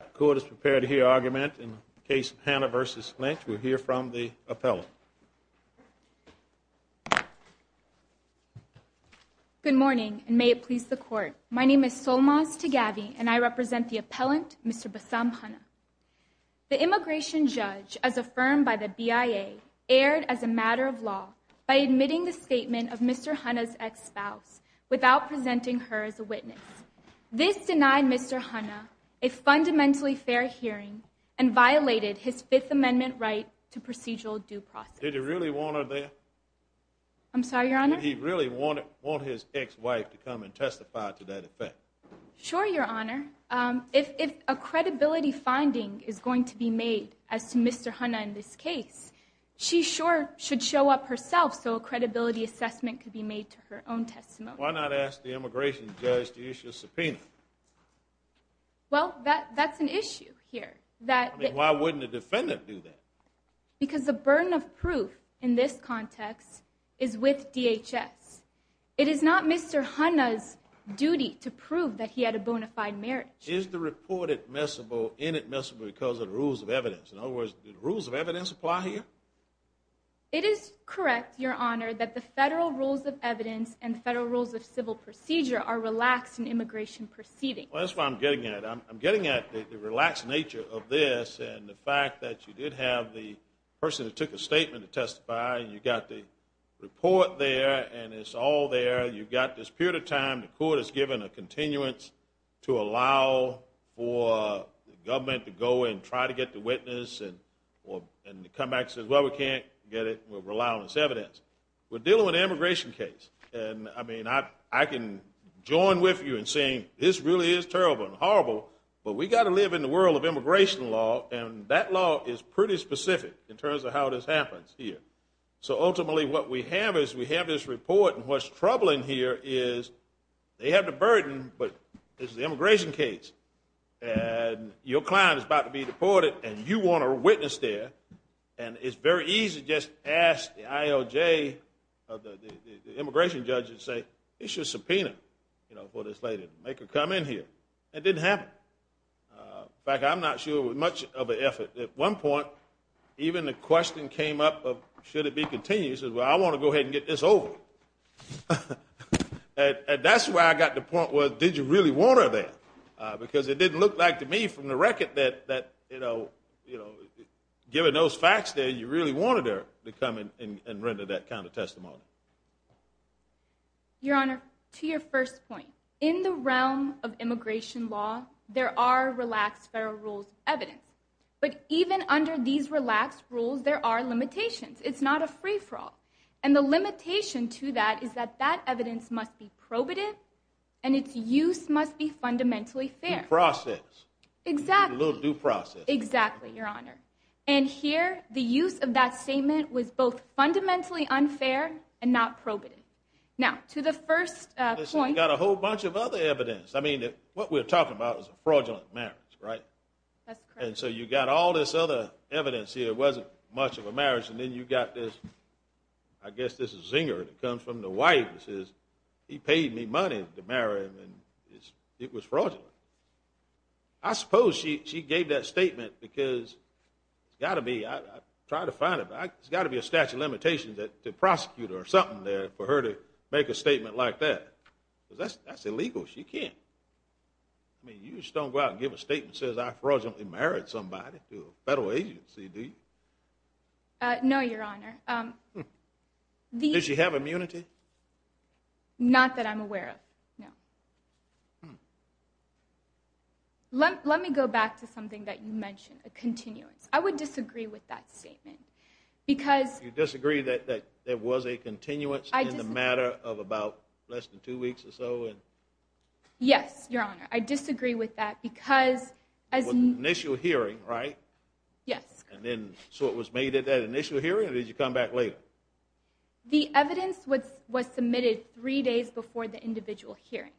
The court is prepared to hear argument in the case of Hanna v. Lynch. We'll hear from the appellant. Good morning, and may it please the court. My name is Solmaz Taghavi, and I represent the appellant, Mr. Basam Hanna. The immigration judge, as affirmed by the BIA, erred as a matter of law by admitting the statement of Mr. Hanna's ex-spouse without presenting her as a witness. This denied Mr. Hanna a fundamentally fair hearing and violated his Fifth Amendment right to procedural due process. Did he really want her there? I'm sorry, Your Honor? Did he really want his ex-wife to come and testify to that effect? Sure, Your Honor. If a credibility finding is going to be made as to Mr. Hanna in this case, she sure should show up herself so a credibility assessment could be made to her own testimony. Why not ask the immigration judge to issue a subpoena? Well, that's an issue here. Why wouldn't a defendant do that? Because the burden of proof in this context is with DHS. It is not Mr. Hanna's duty to prove that he had a bona fide marriage. Is the report admissible or inadmissible because of the rules of evidence? In other words, do the rules of evidence apply here? It is correct, Your Honor, that the federal rules of evidence and the federal rules of civil procedure are relaxed in immigration proceedings. Well, that's what I'm getting at. I'm getting at the relaxed nature of this and the fact that you did have the person that took a statement to testify. You got the report there and it's all there. You've got this period of time, the court has given a continuance to allow for the government to go and try to get the witness and come back and say, well, we can't get it, we'll rely on this evidence. We're dealing with an immigration case and I mean, I can join with you in saying this really is terrible and horrible, but we've got to live in the world of immigration law and that law is pretty specific in terms of how this happens here. So ultimately, what we have is we have this report and what's troubling here is they have the burden, but it's the immigration case. And your client is about to be deported and you want a witness there and it's very easy to just ask the IOJ or the immigration judge and say, it's your subpoena for this lady, make her come in here. It didn't happen. In fact, I'm not sure it was much of an effort. At one point, even the question came up of should it be continuous. Well, I want to go ahead and get this over with. And that's where I got the point was did you really want her there? Because it didn't look like to me from the record that, you know, given those facts there, you really wanted her to come in and render that kind of testimony. Your Honor, to your first point, in the realm of immigration law, there are relaxed federal rules of evidence. But even under these relaxed rules, there are limitations. It's not a free-for-all. And the limitation to that is that that evidence must be probative and its use must be fundamentally fair. Due process. Exactly. A little due process. Exactly, Your Honor. And here, the use of that statement was both fundamentally unfair and not probative. Now, to the first point. We've got a whole bunch of other evidence. I mean, what we're talking about is a fraudulent marriage, right? That's correct. And so you've got all this other evidence here. It wasn't much of a marriage. And then you've got this, I guess this is Zinger, that comes from the wife and says, he paid me money to marry him and it was fraudulent. I suppose she gave that statement because it's got to be, I tried to find it, but it's got to be a statute of limitations to prosecute her or something there for her to make a statement like that. Because that's illegal. She can't. I mean, you just don't go out and give a statement that says I fraudulently married somebody to a federal agency, do you? No, Your Honor. Does she have immunity? Not that I'm aware of, no. Let me go back to something that you mentioned, a continuance. I would disagree with that statement. You disagree that there was a continuance in the matter of about less than two weeks or so? Yes, Your Honor. I disagree with that because as an initial hearing, right? Yes. So it was made at that initial hearing or did you come back later? The evidence was submitted three days before the individual hearing.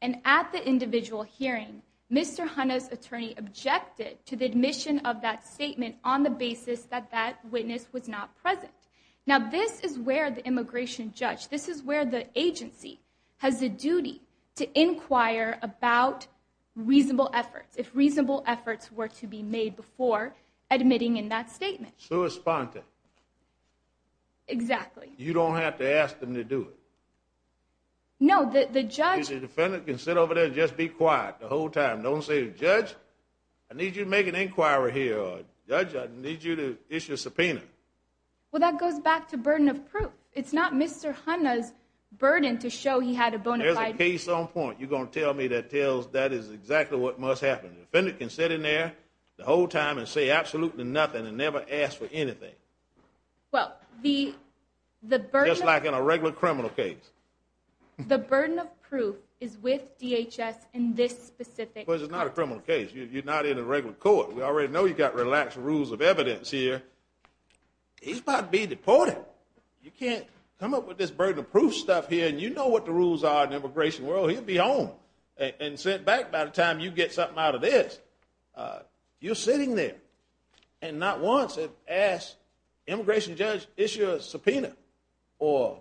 And at the individual hearing, Mr. Hanna's attorney objected to the admission of that statement on the basis that that witness was not present. Now this is where the immigration judge, this is where the agency has a duty to inquire about reasonable efforts, if reasonable efforts were to be made before admitting in that statement. Sui sponte. Exactly. You don't have to ask them to do it. No, the judge. The defendant can sit over there and just be quiet the whole time. Don't say, Judge, I need you to make an inquiry here. Judge, I need you to issue a subpoena. Well, that goes back to burden of proof. It's not Mr. Hanna's burden to show he had a bona fide case. There's a case on point. You're going to tell me that tells that is exactly what must happen. The defendant can sit in there the whole time and say absolutely nothing and never ask for anything. Well, the burden of proof. Just like in a regular criminal case. The burden of proof is with DHS in this specific context. But it's not a criminal case. You're not in a regular court. We already know you've got relaxed rules of evidence here. He's about to be deported. You can't come up with this burden of proof stuff here, and you know what the rules are in the immigration world. He'll be home and sent back by the time you get something out of this. You're sitting there and not once have asked an immigration judge to issue a subpoena or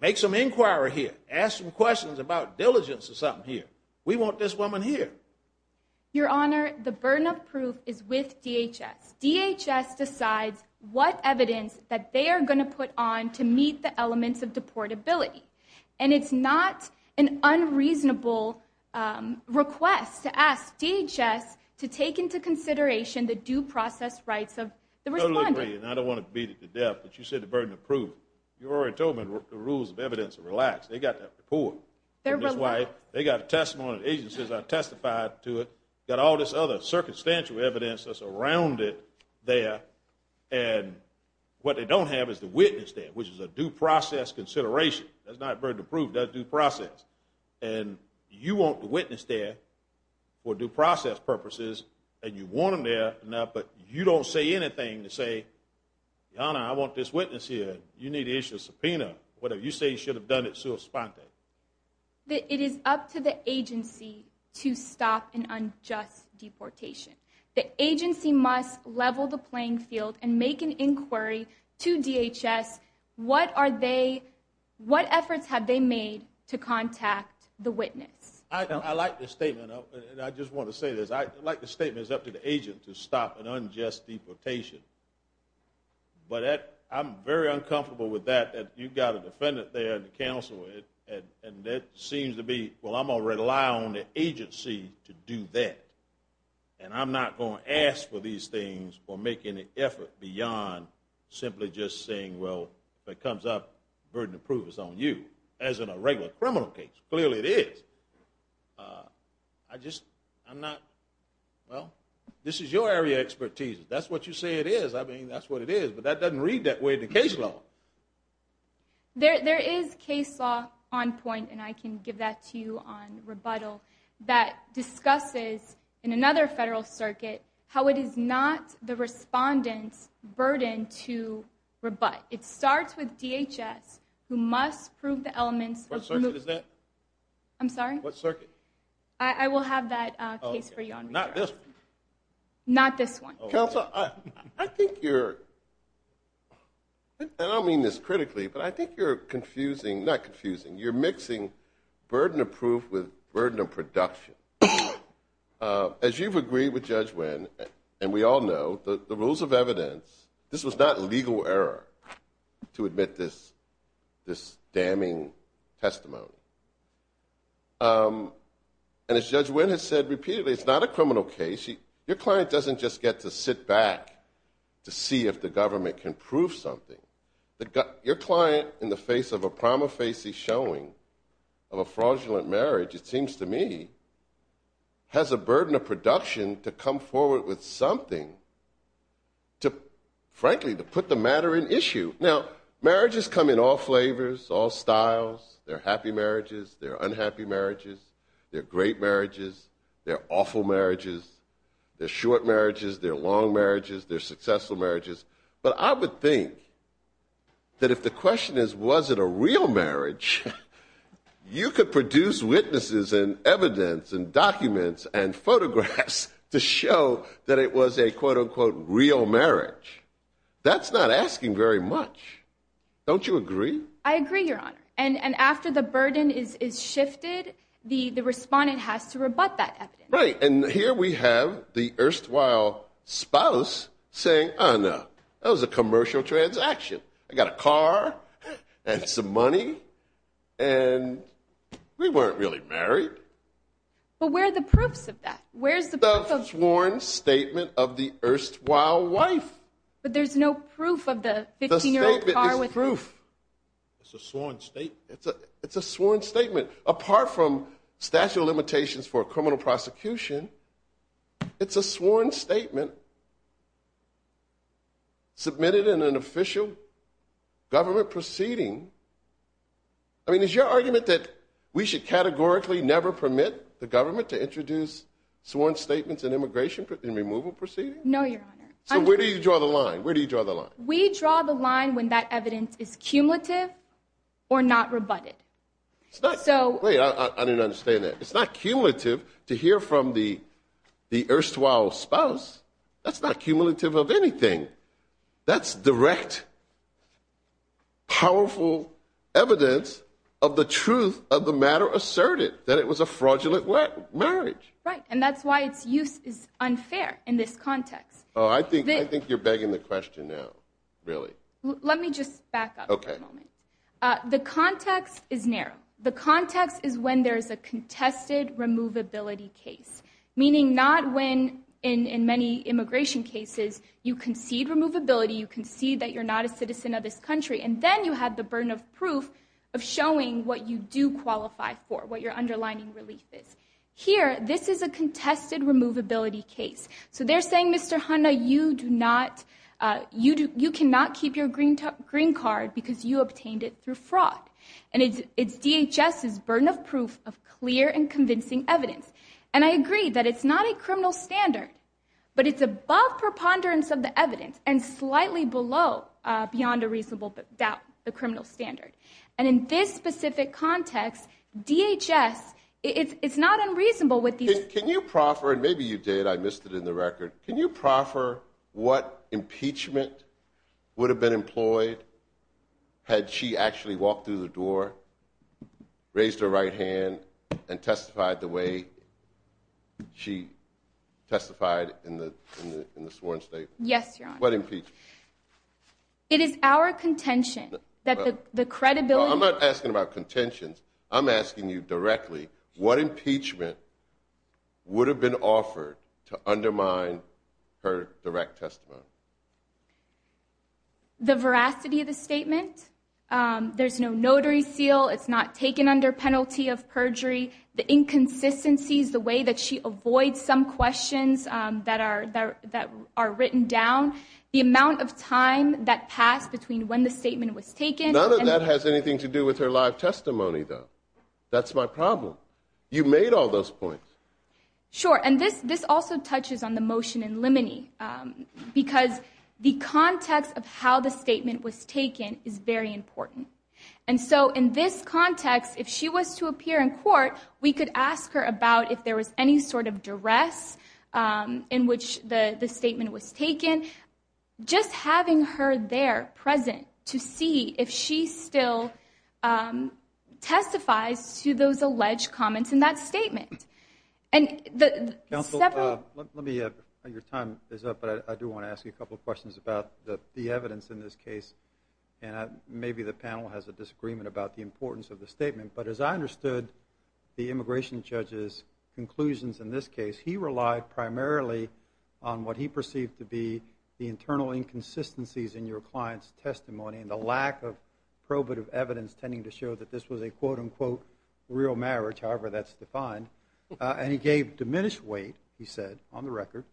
make some inquiry here, ask some questions about diligence or something here. We want this woman here. Your Honor, the burden of proof is with DHS. DHS decides what evidence that they are going to put on to meet the elements of deportability. And it's not an unreasonable request to ask DHS to take into consideration the due process rights of the respondent. I totally agree, and I don't want to beat it to death, but you said the burden of proof. You've already told me the rules of evidence are relaxed. They've got that report. They're relaxed. They've got a testimony. The agencies have testified to it. They've got all this other circumstantial evidence that's around it there, and what they don't have is the witness there, which is a due process consideration. That's not burden of proof. That's due process. And you want the witness there for due process purposes, and you want them there, but you don't say anything to say, Your Honor, I want this witness here. You need to issue a subpoena, whatever. You say you should have done it so spontaneously. It is up to the agency to stop an unjust deportation. The agency must level the playing field and make an inquiry to DHS. What efforts have they made to contact the witness? I like the statement, and I just want to say this. I like the statement, it's up to the agent to stop an unjust deportation. But I'm very uncomfortable with that. You've got a defendant there in the counsel, and it seems to be, well, I'm going to rely on the agency to do that, and I'm not going to ask for these things or make any effort beyond simply just saying, well, if it comes up, burden of proof is on you, as in a regular criminal case. Clearly it is. I just, I'm not, well, this is your area of expertise. That's what you say it is. I mean, that's what it is. But that doesn't read that way in the case law. There is case law on point, and I can give that to you on rebuttal, that discusses in another federal circuit how it is not the respondent's burden to rebut. It starts with DHS, who must prove the elements. What circuit is that? I'm sorry? What circuit? I will have that case for you on rebuttal. Not this one. Counsel, I think you're, and I don't mean this critically, but I think you're confusing, not confusing, you're mixing burden of proof with burden of production. As you've agreed with Judge Wynn, and we all know, the rules of evidence, this was not legal error to admit this damning testimony. And as Judge Wynn has said repeatedly, it's not a criminal case. Your client doesn't just get to sit back to see if the government can prove something. Your client, in the face of a prima facie showing of a fraudulent marriage, it seems to me, has a burden of production to come forward with something to, frankly, to put the matter in issue. Now, marriages come in all flavors, all styles. There are happy marriages. There are unhappy marriages. There are great marriages. There are awful marriages. There are short marriages. There are long marriages. There are successful marriages. But I would think that if the question is, was it a real marriage, you could produce witnesses and evidence and documents and photographs to show that it was a, quote, unquote, real marriage. Don't you agree? I agree, Your Honor. And after the burden is shifted, the respondent has to rebut that evidence. Right. And here we have the erstwhile spouse saying, oh, no, that was a commercial transaction. I got a car and some money, and we weren't really married. But where are the proofs of that? Where is the proof of that? The sworn statement of the erstwhile wife. But there's no proof of the 15-year-old car. The statement is proof. It's a sworn statement? It's a sworn statement. Apart from statute of limitations for criminal prosecution, it's a sworn statement submitted in an official government proceeding. I mean, is your argument that we should categorically never permit the government to introduce sworn statements in immigration and removal proceedings? No, Your Honor. So where do you draw the line? Where do you draw the line? We draw the line when that evidence is cumulative or not rebutted. Wait, I didn't understand that. It's not cumulative to hear from the erstwhile spouse. That's not cumulative of anything. That's direct, powerful evidence of the truth of the matter asserted, that it was a fraudulent marriage. Right, and that's why its use is unfair in this context. Oh, I think you're begging the question now, really. Let me just back up for a moment. Okay. The context is narrow. The context is when there's a contested removability case, meaning not when, in many immigration cases, you concede removability, you concede that you're not a citizen of this country, and then you have the burden of proof of showing what you do qualify for, what your underlining relief is. Here, this is a contested removability case. So they're saying, Mr. Honda, you cannot keep your green card because you obtained it through fraud. And it's DHS's burden of proof of clear and convincing evidence. And I agree that it's not a criminal standard, but it's above preponderance of the evidence and slightly below, beyond a reasonable doubt, the criminal standard. And in this specific context, DHS, it's not unreasonable. Can you proffer, and maybe you did, I missed it in the record, can you proffer what impeachment would have been employed had she actually walked through the door, raised her right hand, and testified the way she testified in the sworn statement? Yes, Your Honor. What impeachment? It is our contention that the credibility of the- I'm not asking about contentions. I'm asking you directly, what impeachment would have been offered to undermine her direct testimony? The veracity of the statement. There's no notary seal. It's not taken under penalty of perjury. The inconsistencies, the way that she avoids some questions that are written down, the amount of time that passed between when the statement was taken- That's my problem. You made all those points. Sure. And this also touches on the motion in limine, because the context of how the statement was taken is very important. And so in this context, if she was to appear in court, we could ask her about if there was any sort of duress in which the statement was taken. Just having her there, present, to see if she still testifies to those alleged comments in that statement. Counsel, your time is up, but I do want to ask you a couple of questions about the evidence in this case. And maybe the panel has a disagreement about the importance of the statement, but as I understood the immigration judge's conclusions in this case, he relied primarily on what he perceived to be the internal inconsistencies in your client's testimony and the lack of probative evidence tending to show that this was a quote-unquote real marriage, however that's defined. And he gave diminished weight, he said, on the record,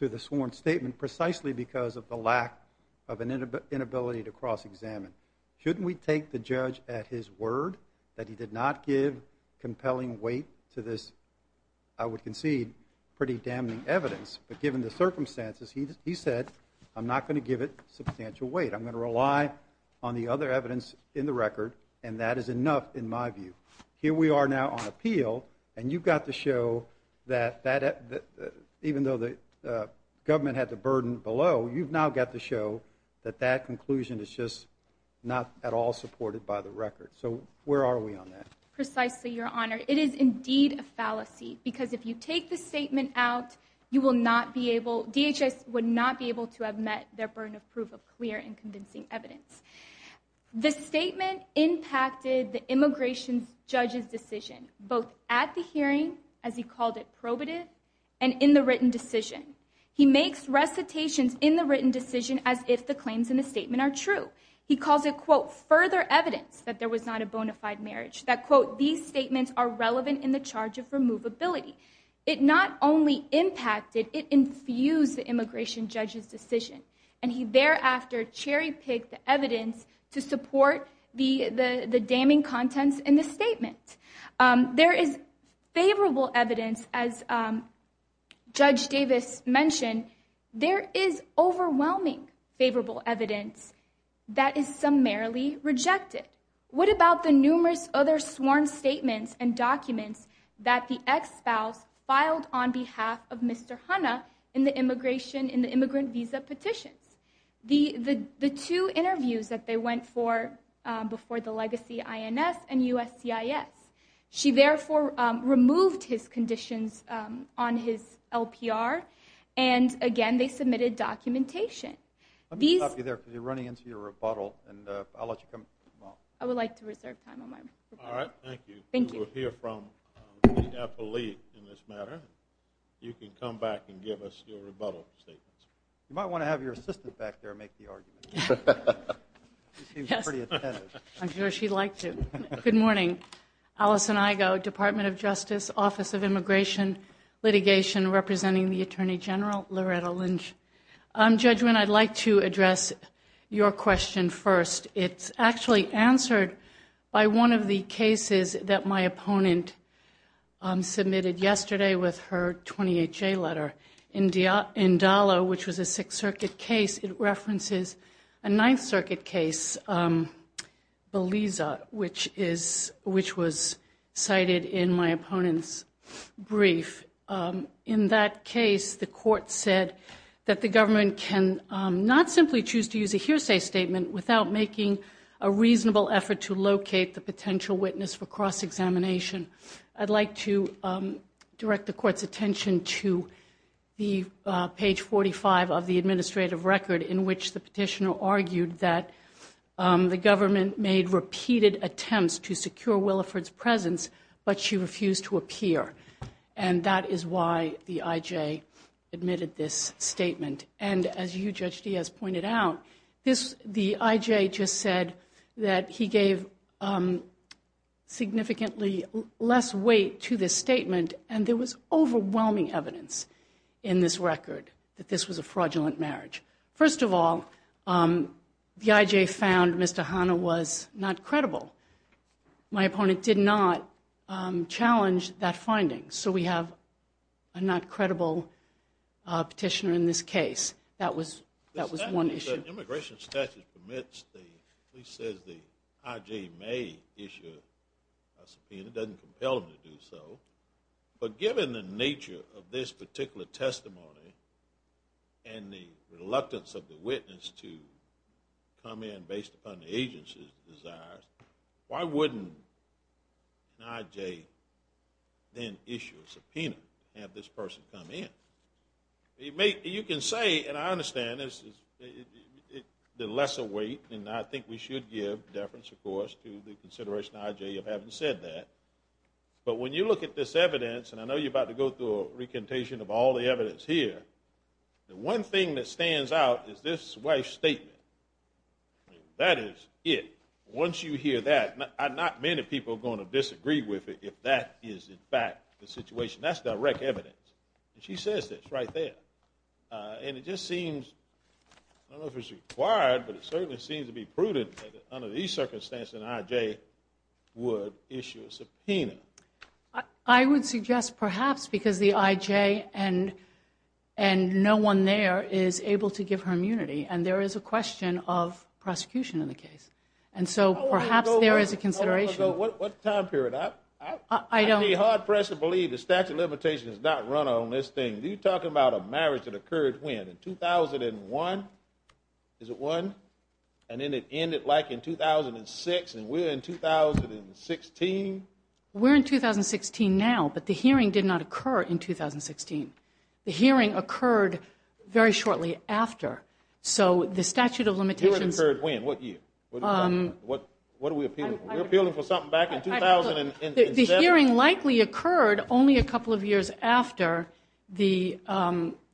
to the sworn statement precisely because of the lack of an inability to cross-examine. Shouldn't we take the judge at his word that he did not give compelling weight to this, I would concede, pretty damning evidence? But given the circumstances, he said, I'm not going to give it substantial weight. I'm going to rely on the other evidence in the record, and that is enough in my view. Here we are now on appeal, and you've got to show that even though the government had the burden below, you've now got to show that that conclusion is just not at all supported by the record. So where are we on that? Precisely, Your Honor. It is indeed a fallacy because if you take the statement out, you will not be able, DHS would not be able to have met their burden of proof of clear and convincing evidence. The statement impacted the immigration judge's decision, both at the hearing, as he called it, probative, and in the written decision. He makes recitations in the written decision as if the claims in the statement are true. He calls it, quote, further evidence that there was not a bona fide marriage, that, quote, these statements are relevant in the charge of removability. It not only impacted, it infused the immigration judge's decision, and he thereafter cherry picked the evidence to support the damning contents in the statement. There is favorable evidence, as Judge Davis mentioned, there is overwhelming favorable evidence that is summarily rejected. What about the numerous other sworn statements and documents that the ex-spouse filed on behalf of Mr. Hanna in the immigration, in the immigrant visa petitions? The two interviews that they went for before the legacy INS and USCIS, she therefore removed his conditions on his LPR, and again, they submitted documentation. I'm going to stop you there because you're running into your rebuttal, and I'll let you come back. I would like to reserve time on my report. All right, thank you. Thank you. We will hear from the affiliate in this matter. You can come back and give us your rebuttal statements. You might want to have your assistant back there make the argument. She seems pretty attentive. I'm sure she'd like to. Good morning. Allison Igo, Department of Justice, Office of Immigration Litigation, representing the Attorney General, Loretta Lynch. Judge Winn, I'd like to address your question first. It's actually answered by one of the cases that my opponent submitted yesterday with her 28-J letter. In Dallo, which was a Sixth Circuit case, it references a Ninth Circuit case, Beliza, which was cited in my opponent's brief. In that case, the court said that the government can not simply choose to use a hearsay statement without making a reasonable effort to locate the potential witness for cross-examination. I'd like to direct the court's attention to page 45 of the administrative record in which the petitioner argued that the government made repeated attempts to secure Williford's presence, but she refused to appear. That is why the I.J. admitted this statement. As you, Judge Diaz, pointed out, the I.J. just said that he gave significantly less weight to this statement. There was overwhelming evidence in this record that this was a fraudulent marriage. First of all, the I.J. found Mr. Hanna was not credible. My opponent did not challenge that finding, so we have a not-credible petitioner in this case. That was one issue. The immigration statute says the I.J. may issue a subpoena. It doesn't compel him to do so, but given the nature of this particular testimony and the reluctance of the witness to come in based upon the agency's desires, why wouldn't an I.J. then issue a subpoena and have this person come in? You can say, and I understand this, the lesser weight, and I think we should give deference, of course, to the consideration of I.J. of having said that, but when you look at this evidence, and I know you're about to go through a recantation of all the evidence here, the one thing that stands out is this wife's statement. That is it. Once you hear that, not many people are going to disagree with it if that is in fact the situation. That's direct evidence. She says this right there, and it just seems, I don't know if it's required, but it certainly seems to be prudent that under these circumstances an I.J. would issue a subpoena. I would suggest perhaps because the I.J. and no one there is able to give her immunity, and there is a question of prosecution in the case, and so perhaps there is a consideration. What time period? I'd be hard-pressed to believe the statute of limitations is not run on this thing. You're talking about a marriage that occurred when, in 2001? Is it one? And then it ended like in 2006, and we're in 2016? We're in 2016 now, but the hearing did not occur in 2016. The hearing occurred very shortly after, so the statute of limitations. The hearing occurred when? What year? What are we appealing for? We're appealing for something back in 2007. The hearing likely occurred only a couple of years after the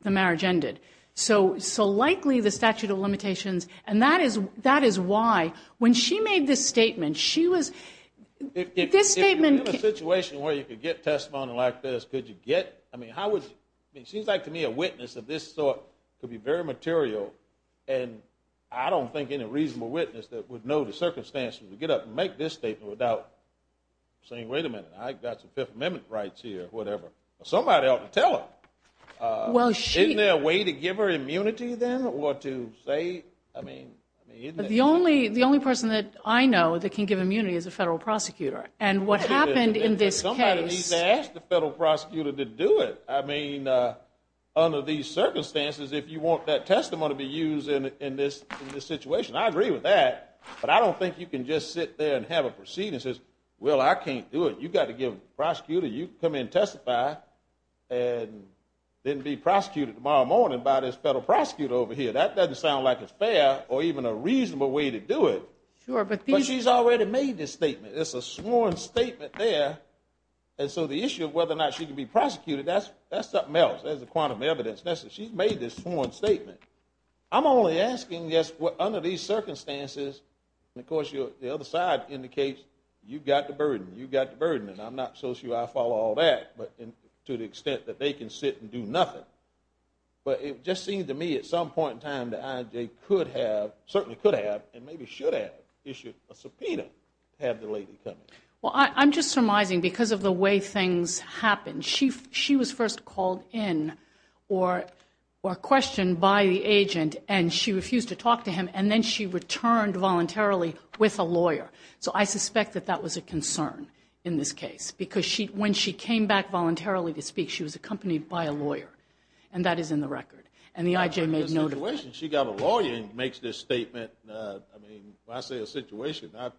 marriage ended. So likely the statute of limitations, and that is why when she made this statement, she was – If you're in a situation where you could get testimony like this, could you get – I mean, it seems like to me a witness of this sort could be very material, and I don't think any reasonable witness that would know the circumstances to get up and make this statement without saying, wait a minute, I've got some Fifth Amendment rights here, whatever. Somebody ought to tell her. Isn't there a way to give her immunity then or to say, I mean – The only person that I know that can give immunity is a federal prosecutor, and what happened in this case – Somebody needs to ask the federal prosecutor to do it. I mean, under these circumstances, if you want that testimony to be used in this situation, I agree with that, but I don't think you can just sit there and have a proceeding that says, well, I can't do it. You've got to get a prosecutor. You can come in and testify and then be prosecuted tomorrow morning by this federal prosecutor over here. That doesn't sound like it's fair or even a reasonable way to do it. Sure, but these – But she's already made this statement. It's a sworn statement there, and so the issue of whether or not she can be prosecuted, that's something else. That's the quantum evidence. She's made this sworn statement. I'm only asking, yes, under these circumstances – And, of course, the other side indicates you've got the burden, you've got the burden, and I'm not so sure I follow all that to the extent that they can sit and do nothing, but it just seems to me at some point in time that IJ could have, certainly could have, and maybe should have issued a subpoena to have the lady come in. Well, I'm just surmising because of the way things happened. She was first called in or questioned by the agent, and she refused to talk to him, and then she returned voluntarily with a lawyer. So I suspect that that was a concern in this case because when she came back voluntarily to speak, she was accompanied by a lawyer, and that is in the record, and the IJ made no – The situation, she got a lawyer and makes this statement. I mean, when I say a situation, I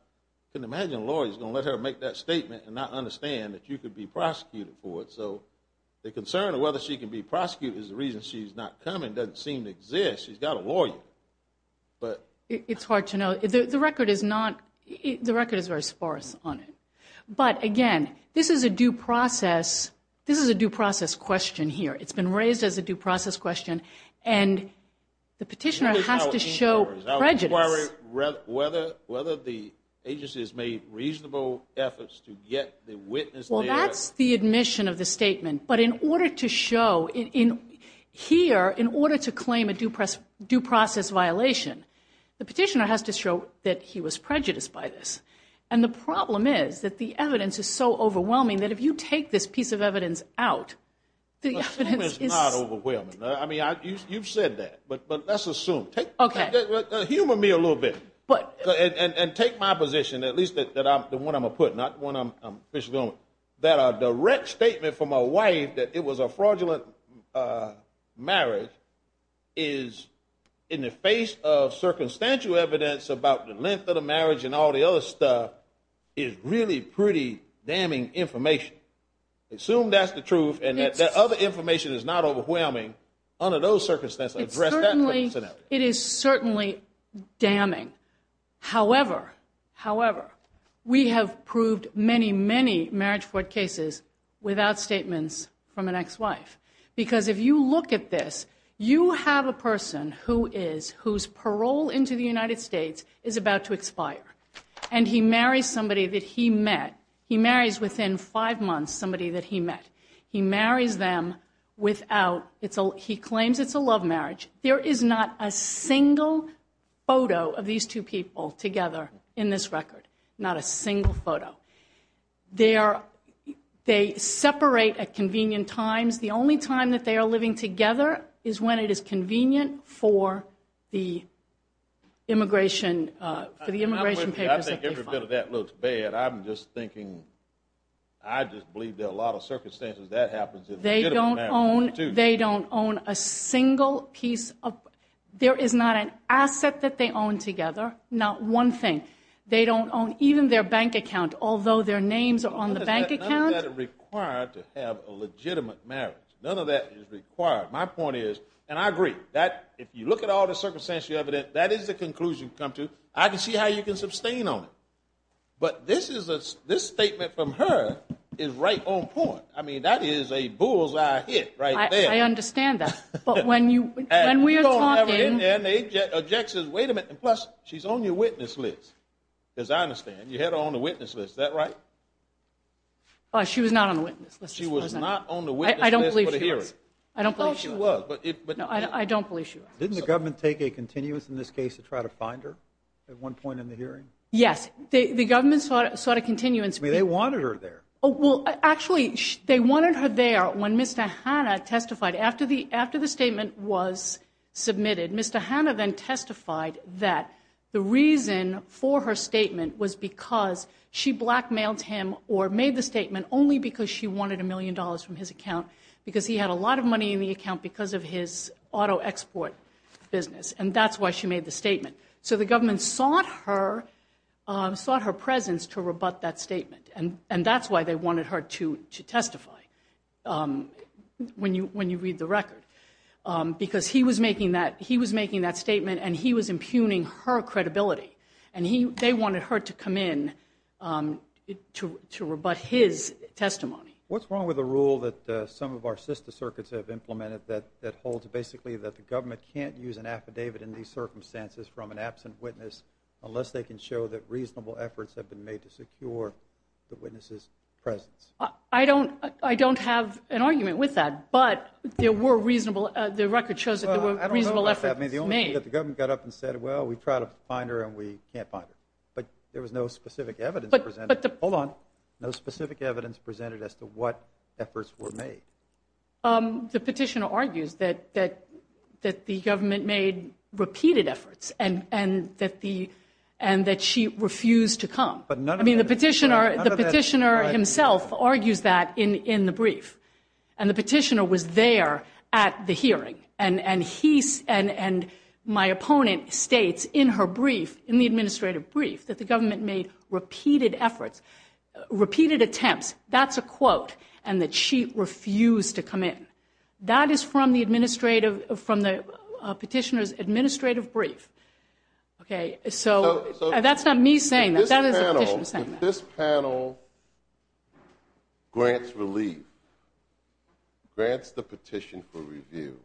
can imagine a lawyer is going to let her make that statement and not understand that you could be prosecuted for it. So the concern of whether she can be prosecuted is the reason she's not coming doesn't seem to exist. She's got a lawyer, but – It's hard to know. The record is not – the record is very sparse on it. But, again, this is a due process – this is a due process question here. It's been raised as a due process question, and the petitioner has to show prejudice. Whether the agency has made reasonable efforts to get the witness there – Well, that's the admission of the statement. But in order to show – here, in order to claim a due process violation, the petitioner has to show that he was prejudiced by this. And the problem is that the evidence is so overwhelming that if you take this piece of evidence out, the evidence is – Assume it's not overwhelming. I mean, you've said that, but let's assume. Humor me a little bit and take my position, at least the one I'm going to put, not the one I'm officially doing, that a direct statement from a wife that it was a fraudulent marriage is, in the face of circumstantial evidence about the length of the marriage and all the other stuff, is really pretty damning information. Assume that's the truth and that other information is not overwhelming under those circumstances. It's certainly – it is certainly damning. However, however, we have proved many, many marriage fraud cases without statements from an ex-wife. Because if you look at this, you have a person who is – whose parole into the United States is about to expire. And he marries somebody that he met. He marries within five months somebody that he met. He marries them without – he claims it's a love marriage. There is not a single photo of these two people together in this record. Not a single photo. They are – they separate at convenient times. The only time that they are living together is when it is convenient for the immigration – for the immigration papers that they file. I think every bit of that looks bad. I'm just thinking – I just believe that a lot of circumstances that happens. They don't own – they don't own a single piece of – there is not an asset that they own together. Not one thing. They don't own even their bank account, although their names are on the bank account. None of that is required to have a legitimate marriage. None of that is required. My point is – and I agree. That – if you look at all the circumstantial evidence, that is the conclusion to come to. I can see how you can sustain on it. But this is a – this statement from her is right on point. I mean, that is a bull's-eye hit right there. I understand that. But when you – when we are talking – And you go in there and they object, says, wait a minute. And plus, she's on your witness list, as I understand. You had her on the witness list. Is that right? She was not on the witness list. She was not on the witness list for the hearing. I don't believe she was. I don't believe she was. I thought she was. No, I don't believe she was. Didn't the government take a continuance in this case to try to find her at one point in the hearing? Yes. The government sought a continuance. They wanted her there. Well, actually, they wanted her there when Mr. Hanna testified. After the statement was submitted, Mr. Hanna then testified that the reason for her statement was because she blackmailed him or made the statement only because she wanted a million dollars from his account because he had a lot of money in the account because of his auto export business. And that's why she made the statement. So the government sought her presence to rebut that statement. And that's why they wanted her to testify when you read the record because he was making that statement and he was impugning her credibility. And they wanted her to come in to rebut his testimony. What's wrong with the rule that some of our sister circuits have implemented that holds basically that the government can't use an affidavit in these circumstances from an absent witness unless they can show that reasonable efforts have been made to secure the witness's presence? I don't have an argument with that, but there were reasonable efforts made. The only thing that the government got up and said, well, we tried to find her and we can't find her. But there was no specific evidence presented. Hold on. No specific evidence presented as to what efforts were made. The petitioner argues that the government made repeated efforts and that she refused to come. I mean, the petitioner himself argues that in the brief. And the petitioner was there at the hearing. And my opponent states in her brief, in the administrative brief, that the government made repeated efforts, repeated attempts, that's a quote, and that she refused to come in. That is from the petitioner's administrative brief. So that's not me saying that. That is the petitioner saying that. If this panel grants relief, grants the petition for review,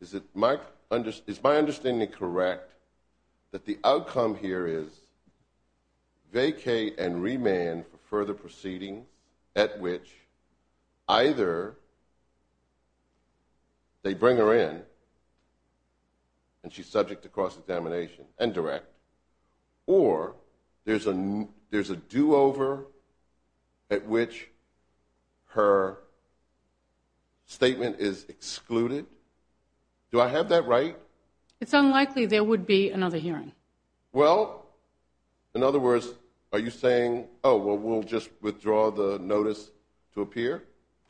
is my understanding correct that the outcome here is vacate and remand for further proceeding at which either they bring her in and she's subject to cross-examination and direct, or there's a do-over at which her statement is excluded? Do I have that right? It's unlikely there would be another hearing. Well, in other words, are you saying, oh, well, we'll just withdraw the notice to appear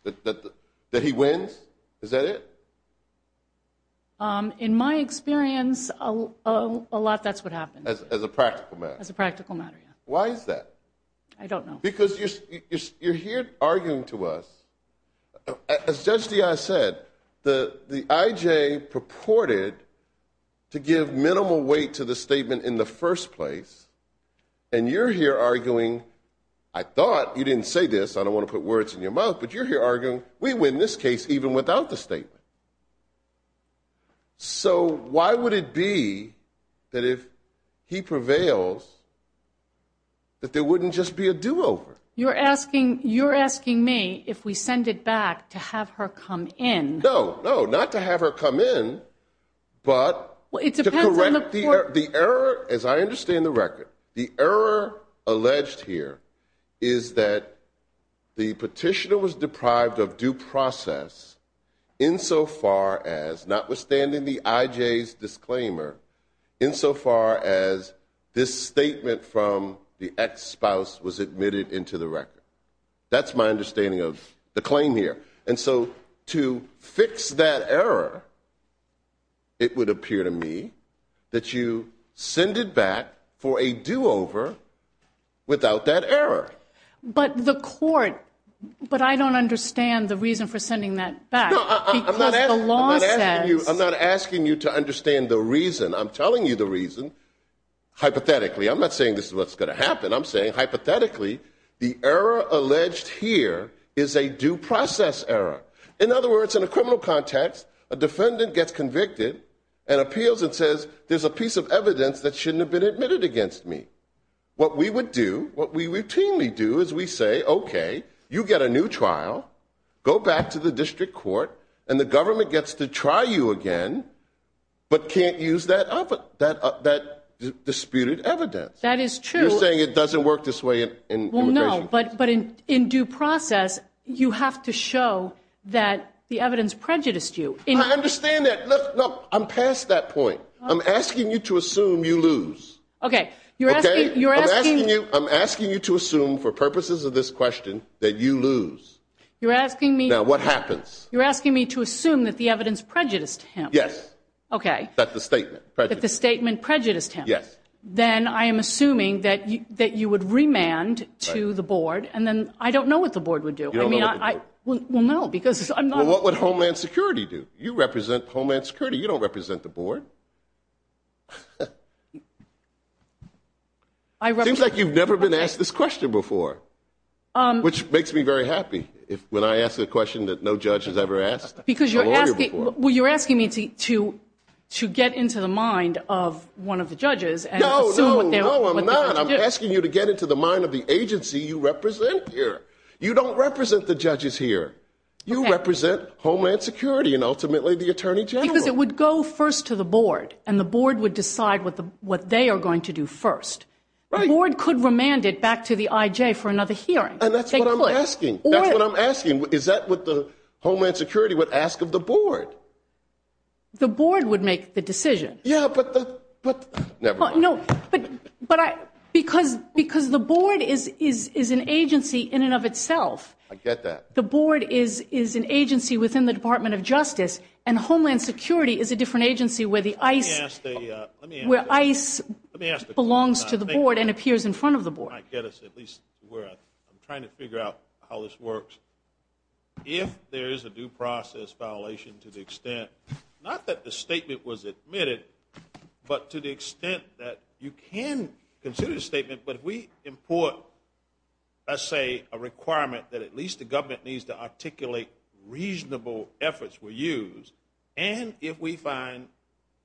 that he wins? Is that it? In my experience, a lot that's what happens. As a practical matter. As a practical matter, yeah. Why is that? I don't know. Because you're here arguing to us. As Judge Diaz said, the IJ purported to give minimal weight to the statement in the first place, and you're here arguing, I thought you didn't say this, I don't want to put words in your mouth, but you're here arguing we win this case even without the statement. So why would it be that if he prevails that there wouldn't just be a do-over? You're asking me if we send it back to have her come in. No, no, not to have her come in, but to correct the error, as I understand the record, the error alleged here is that the petitioner was deprived of due process insofar as, notwithstanding the IJ's disclaimer, insofar as this statement from the ex-spouse was admitted into the record. That's my understanding of the claim here. And so to fix that error, it would appear to me that you send it back for a do-over without that error. But the court, but I don't understand the reason for sending that back. I'm not asking you to understand the reason. I'm telling you the reason hypothetically. I'm not saying this is what's going to happen. I'm saying hypothetically the error alleged here is a due process error. In other words, in a criminal context, a defendant gets convicted and appeals and says, there's a piece of evidence that shouldn't have been admitted against me. What we would do, what we routinely do is we say, okay, you get a new trial, go back to the district court, and the government gets to try you again, but can't use that disputed evidence. That is true. You're saying it doesn't work this way in immigration? Well, no, but in due process, you have to show that the evidence prejudiced you. I understand that. Look, look, I'm past that point. I'm asking you to assume you lose. Okay. I'm asking you to assume, for purposes of this question, that you lose. You're asking me. Now, what happens? You're asking me to assume that the evidence prejudiced him. Yes. Okay. That the statement prejudiced him. That the statement prejudiced him. Yes. Then I am assuming that you would remand to the board, and then I don't know what the board would do. You don't know what the board would do? Well, no, because I'm not. Well, what would Homeland Security do? You represent Homeland Security. You don't represent the board. It seems like you've never been asked this question before, which makes me very happy when I ask a question that no judge has ever asked a lawyer before. Because you're asking me to get into the mind of one of the judges and assume what they're going to do. No, no, no, I'm not. I'm asking you to get into the mind of the agency you represent here. You don't represent the judges here. You represent Homeland Security and, ultimately, the Attorney General. Because it would go first to the board, and the board would decide what they are going to do first. Right. The board could remand it back to the IJ for another hearing. And that's what I'm asking. That's what I'm asking. Is that what the Homeland Security would ask of the board? The board would make the decision. Yeah, but the – never mind. No, but I – because the board is an agency in and of itself. I get that. But the board is an agency within the Department of Justice, and Homeland Security is a different agency where ICE belongs to the board and appears in front of the board. I'm trying to figure out how this works. If there is a due process violation to the extent, not that the statement was admitted, but to the extent that you can consider the statement, but if we import, let's say, a requirement that at least the government needs to articulate reasonable efforts were used, and if we find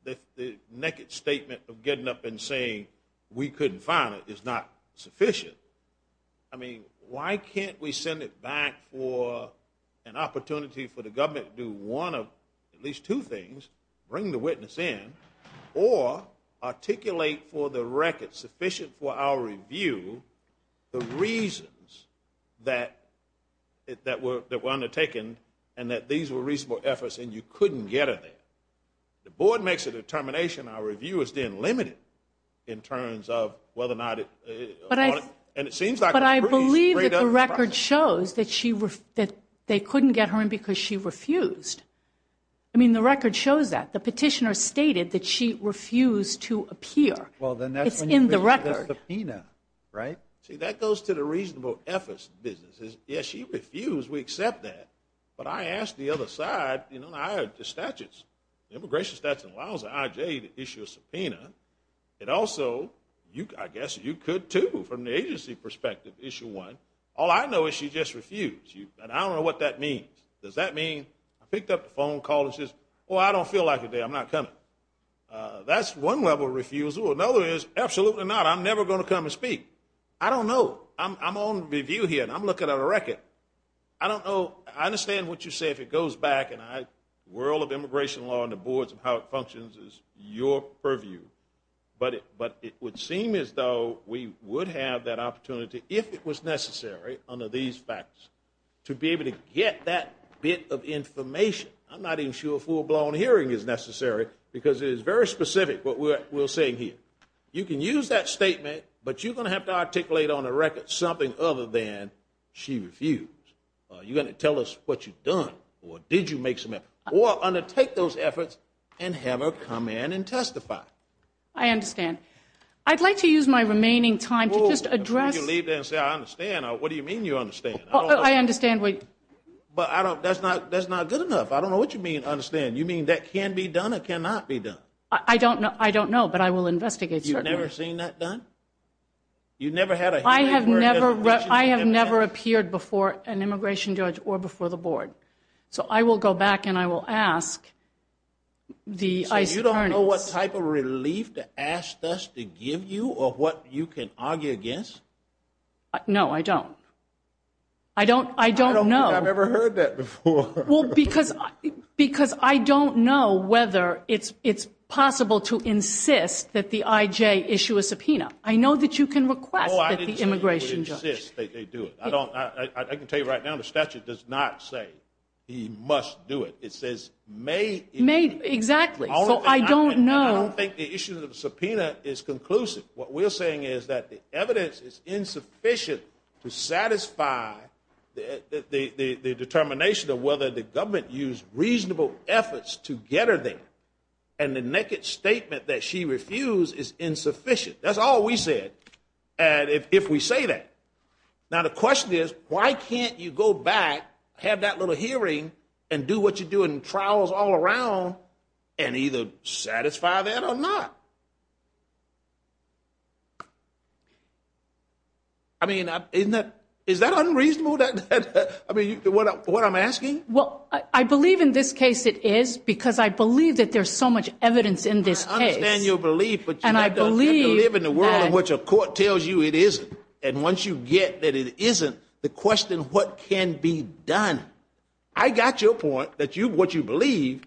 that the naked statement of getting up and saying we couldn't find it is not sufficient, I mean, why can't we send it back for an opportunity for the government to do one of at least two things, bring the witness in, or articulate for the record sufficient for our review the reasons that were undertaken and that these were reasonable efforts and you couldn't get her there. The board makes a determination. Our review is then limited in terms of whether or not it – But I believe that the record shows that they couldn't get her in because she refused. I mean, the record shows that. The petitioner stated that she refused to appear. Well, then that's when you bring up the subpoena, right? See, that goes to the reasonable efforts businesses. Yes, she refused. We accept that. But I ask the other side, you know, I have the statutes. The immigration statute allows the IJ to issue a subpoena. It also – I guess you could, too, from the agency perspective, issue one. All I know is she just refused. And I don't know what that means. Does that mean I picked up the phone, called and said, well, I don't feel like it today. I'm not coming. That's one level of refusal. Another is absolutely not. I'm never going to come and speak. I don't know. I'm on review here, and I'm looking at a record. I don't know. I understand what you say if it goes back, and the world of immigration law and the boards and how it functions is your purview. But it would seem as though we would have that opportunity if it was necessary, under these factors, to be able to get that bit of information. I'm not even sure a full-blown hearing is necessary because it is very specific, what we're saying here. You can use that statement, but you're going to have to articulate on the record something other than she refused. You're going to tell us what you've done or did you make some effort or undertake those efforts and have her come in and testify. I understand. I'd like to use my remaining time to just address – I understand. What do you mean you understand? I understand. But that's not good enough. I don't know what you mean, understand. You mean that can be done or cannot be done? I don't know, but I will investigate. You've never seen that done? You've never had a hearing? I have never appeared before an immigration judge or before the board. So I will go back and I will ask the ICE attorneys – No, I don't. I don't know. I don't think I've ever heard that before. Because I don't know whether it's possible to insist that the IJ issue a subpoena. I know that you can request that the immigration judge – Oh, I didn't say you would insist that they do it. I can tell you right now the statute does not say he must do it. It says may – May, exactly. So I don't know. I don't think the issue of the subpoena is conclusive. What we're saying is that the evidence is insufficient to satisfy the determination of whether the government used reasonable efforts to get her there. And the naked statement that she refused is insufficient. That's all we said, if we say that. Now the question is, why can't you go back, have that little hearing, and do what you do in trials all around, and either satisfy that or not? I mean, is that unreasonable, what I'm asking? Well, I believe in this case it is because I believe that there's so much evidence in this case. I understand your belief, but you have to live in a world in which a court tells you it isn't. And once you get that it isn't, the question, what can be done? I got your point, what you believe,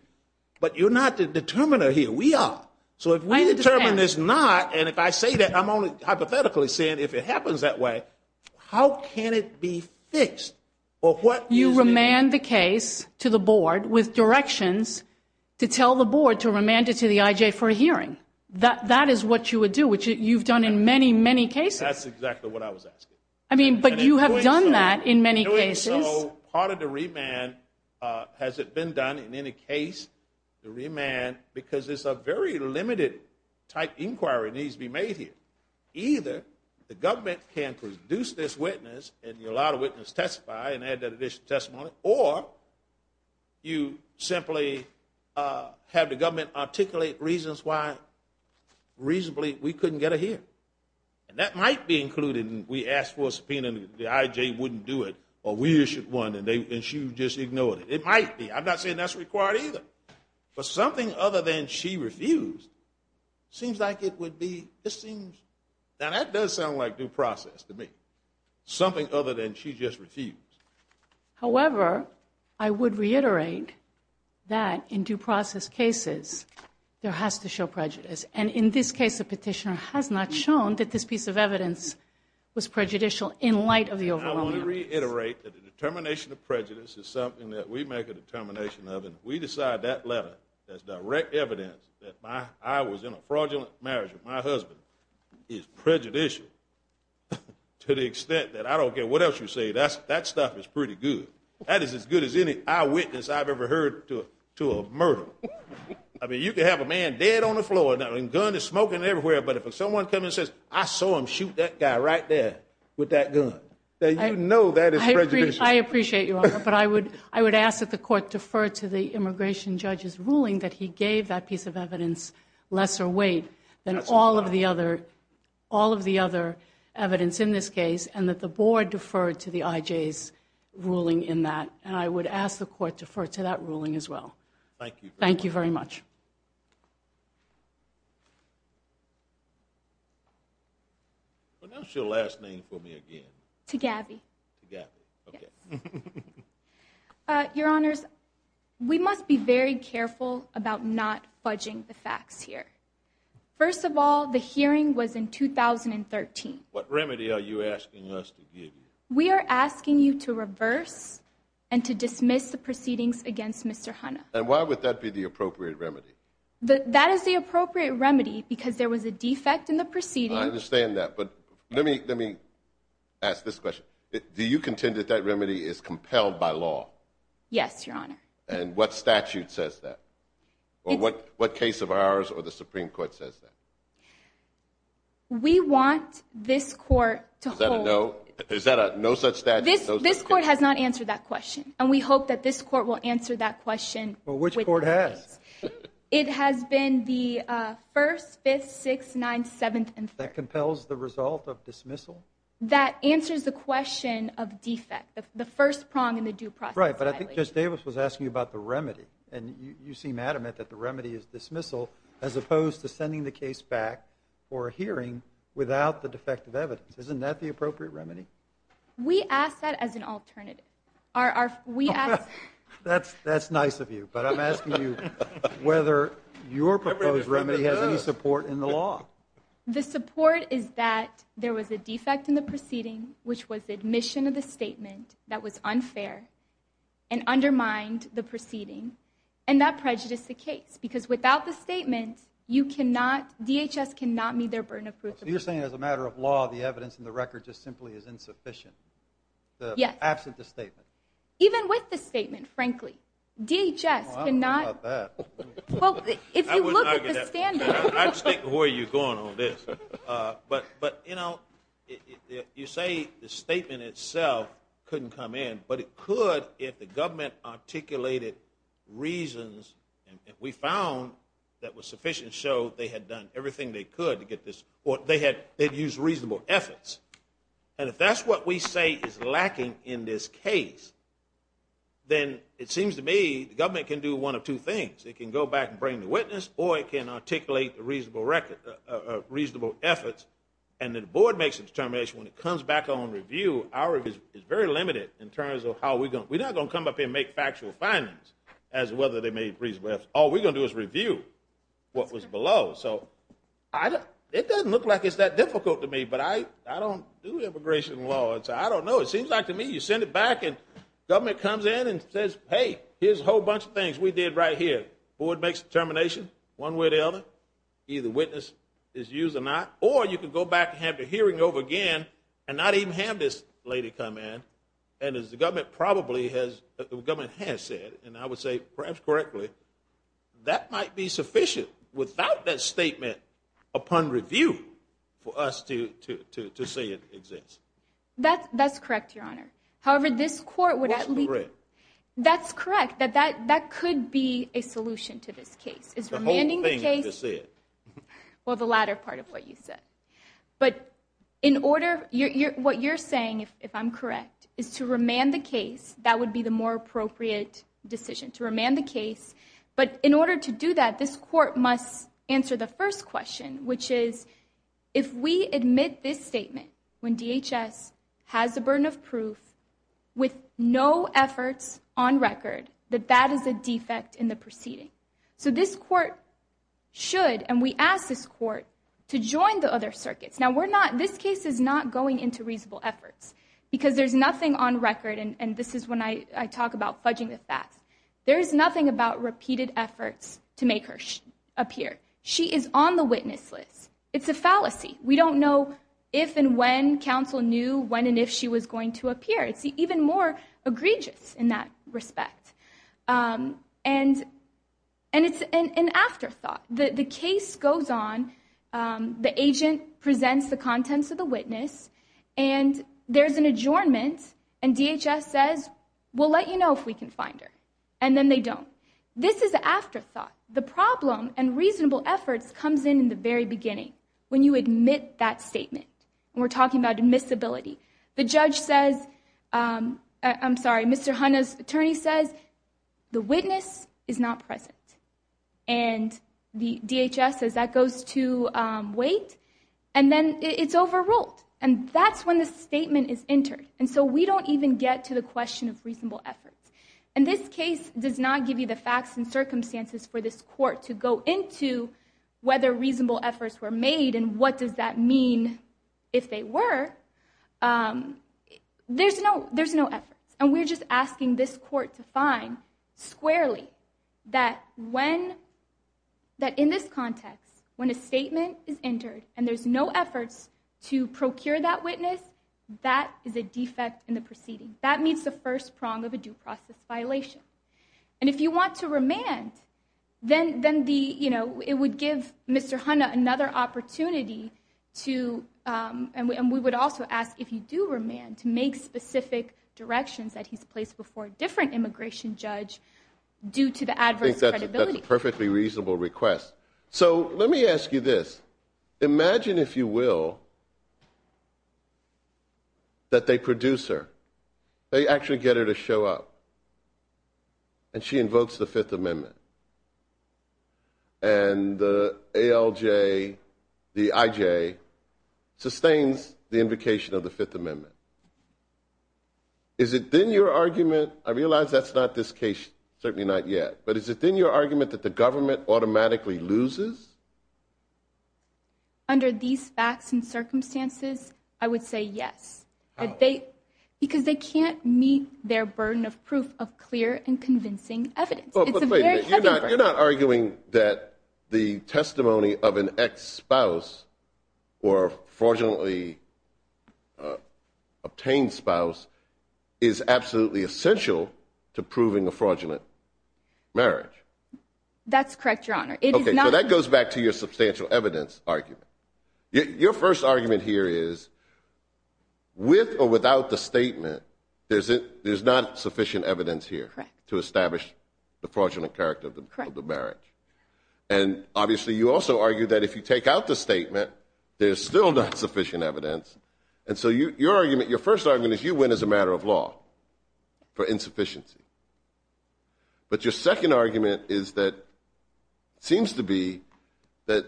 but you're not the determiner here. We are. So if we determine it's not, and if I say that, I'm only hypothetically saying if it happens that way, how can it be fixed? You remand the case to the board with directions to tell the board to remand it to the IJ for a hearing. That is what you would do, which you've done in many, many cases. That's exactly what I was asking. But you have done that in many cases. And so part of the remand, has it been done in any case? The remand, because it's a very limited type inquiry needs to be made here. Either the government can produce this witness and allow the witness to testify and add that additional testimony, or you simply have the government articulate reasons why reasonably we couldn't get a hearing. And that might be included in we asked for a subpoena and the IJ wouldn't do it, or we issued one and she just ignored it. It might be. I'm not saying that's required either. But something other than she refused seems like it would be, now that does sound like due process to me, something other than she just refused. However, I would reiterate that in due process cases, there has to show prejudice. And in this case, the petitioner has not shown that this piece of evidence was prejudicial in light of the overwhelming evidence. I want to reiterate that the determination of prejudice is something that we make a determination of, and we decide that letter as direct evidence that I was in a fraudulent marriage with my husband is prejudicial to the extent that I don't care what else you say, that stuff is pretty good. That is as good as any eyewitness I've ever heard to a murder. I mean, you can have a man dead on the floor and a gun and smoking everywhere, but if someone comes and says, I saw him shoot that guy right there with that gun, then you know that is prejudicial. I appreciate you, but I would ask that the court defer to the immigration judge's ruling that he gave that piece of evidence lesser weight than all of the other evidence in this case, and that the board defer to the IJ's ruling in that. And I would ask the court to defer to that ruling as well. Thank you. Thank you very much. Announce your last name for me again. Tagavi. Tagavi, okay. Your Honors, we must be very careful about not budging the facts here. First of all, the hearing was in 2013. What remedy are you asking us to give you? We are asking you to reverse and to dismiss the proceedings against Mr. Hanna. And why would that be the appropriate remedy? That is the appropriate remedy because there was a defect in the proceedings. I understand that, but let me ask this question. Do you contend that that remedy is compelled by law? Yes, Your Honor. And what statute says that? What case of ours or the Supreme Court says that? We want this court to hold. Is that a no? Is that a no such statute? This court has not answered that question, and we hope that this court will answer that question. Well, which court has? It has been the 1st, 5th, 6th, 9th, 7th, and 3rd. That compels the result of dismissal? That answers the question of defect, the first prong in the due process violation. Right, but I think Judge Davis was asking about the remedy. And you seem adamant that the remedy is dismissal as opposed to sending the case back for a hearing without the defective evidence. Isn't that the appropriate remedy? We ask that as an alternative. That's nice of you, but I'm asking you whether your proposed remedy has any support in the law. The support is that there was a defect in the proceeding, which was admission of the statement that was unfair and undermined the proceeding. And that prejudiced the case, because without the statement, DHS cannot meet their burden of proof. So you're saying as a matter of law, the evidence in the record just simply is insufficient? Yes. Absent the statement? Even with the statement, frankly. DHS cannot. I don't know about that. Well, if you look at the standard. I was thinking, where are you going on this? But, you know, you say the statement itself couldn't come in, but it could if the government articulated reasons, and we found that was sufficient to show they had done everything they could to get this, or they had used reasonable efforts. And if that's what we say is lacking in this case, then it seems to me the government can do one of two things. It can go back and bring the witness, or it can articulate the reasonable efforts, and then the board makes a determination when it comes back on review. Our review is very limited in terms of how we're going to – we're not going to come up and make factual findings as to whether they made reasonable efforts. All we're going to do is review what was below. So it doesn't look like it's that difficult to me, but I don't do immigration law, so I don't know. It seems like to me you send it back and the government comes in and says, hey, here's a whole bunch of things we did right here. The board makes a determination, one way or the other, either witness is used or not, or you can go back and have the hearing over again and not even have this lady come in. And as the government probably has said, and I would say perhaps correctly, that might be sufficient without that statement upon review for us to say it exists. That's correct, Your Honor. What's correct? That's correct, that that could be a solution to this case. The whole thing you just said. Well, the latter part of what you said. But in order – what you're saying, if I'm correct, is to remand the case, that would be the more appropriate decision, to remand the case. But in order to do that, this court must answer the first question, which is if we admit this statement when DHS has a burden of proof with no efforts on record, that that is a defect in the proceeding. So this court should, and we ask this court, to join the other circuits. Now, we're not – this case is not going into reasonable efforts because there's nothing on record, and this is when I talk about fudging the facts. There is nothing about repeated efforts to make her appear. She is on the witness list. It's a fallacy. We don't know if and when counsel knew when and if she was going to appear. It's even more egregious in that respect. And it's an afterthought. The case goes on, the agent presents the contents of the witness, and there's an adjournment, and DHS says, we'll let you know if we can find her. And then they don't. This is an afterthought. The problem in reasonable efforts comes in in the very beginning, when you admit that statement. We're talking about admissibility. The judge says – I'm sorry, Mr. Hanna's attorney says, the witness is not present. And DHS says that goes to wait. And then it's overruled. And that's when the statement is entered. And so we don't even get to the question of reasonable efforts. And this case does not give you the facts and circumstances for this court to go into whether reasonable efforts were made and what does that mean if they were. There's no efforts. And we're just asking this court to find squarely that in this context, when a statement is entered and there's no efforts to procure that witness, that is a defect in the proceeding. That meets the first prong of a due process violation. And if you want to remand, then it would give Mr. Hanna another opportunity to – I think that's a perfectly reasonable request. So let me ask you this. Imagine, if you will, that they produce her. They actually get her to show up. And she invokes the Fifth Amendment. And the ALJ, the IJ, sustains the invocation of the Fifth Amendment. Is it then your argument – I realize that's not this case, certainly not yet – but is it then your argument that the government automatically loses? Under these facts and circumstances, I would say yes. Because they can't meet their burden of proof of clear and convincing evidence. It's a very heavy burden. You're not arguing that the testimony of an ex-spouse or a fraudulently obtained spouse is absolutely essential to proving a fraudulent marriage. That's correct, Your Honor. Okay, so that goes back to your substantial evidence argument. Your first argument here is, with or without the statement, there's not sufficient evidence here to establish the fraudulent character of the marriage. And obviously you also argue that if you take out the statement, there's still not sufficient evidence. And so your argument, your first argument is you win as a matter of law for insufficiency. But your second argument is that it seems to be that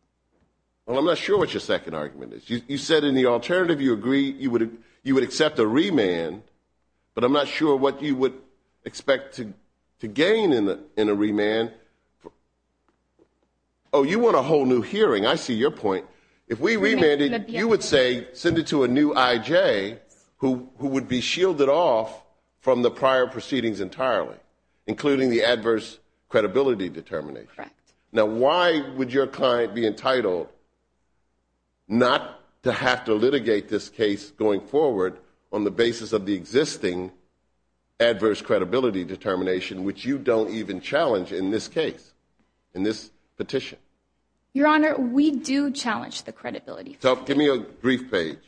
– well, I'm not sure what your second argument is. You said in the alternative you agree you would accept a remand, but I'm not sure what you would expect to gain in a remand. Oh, you want a whole new hearing. I see your point. If we remanded, you would say send it to a new I.J. who would be shielded off from the prior proceedings entirely, including the adverse credibility determination. Correct. Now, why would your client be entitled not to have to litigate this case going forward on the basis of the existing adverse credibility determination, which you don't even challenge in this case, in this petition? Your Honor, we do challenge the credibility. So give me a brief page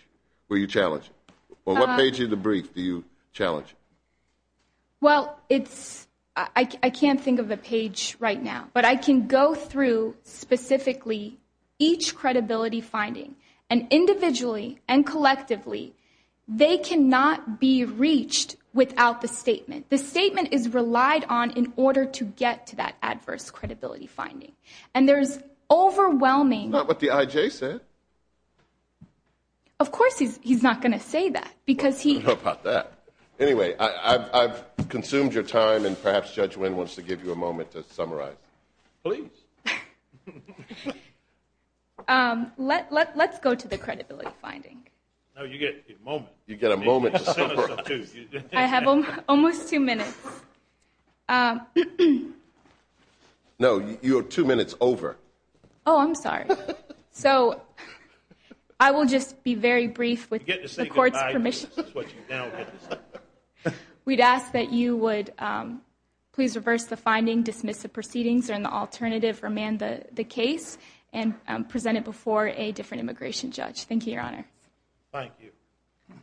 where you challenge it. On what page of the brief do you challenge it? Well, it's – I can't think of a page right now. But I can go through specifically each credibility finding, and individually and collectively they cannot be reached without the statement. The statement is relied on in order to get to that adverse credibility finding. And there's overwhelming – Not what the I.J. said. Of course he's not going to say that because he – I don't know about that. Anyway, I've consumed your time, and perhaps Judge Wynn wants to give you a moment to summarize. Please. Let's go to the credibility finding. No, you get a moment. You get a moment to summarize. I have almost two minutes. No, you are two minutes over. Oh, I'm sorry. So I will just be very brief with the court's permission. This is what you now get to say. We'd ask that you would please reverse the finding, dismiss the proceedings, or in the alternative, remand the case and present it before a different immigration judge. Thank you, Your Honor. Thank you.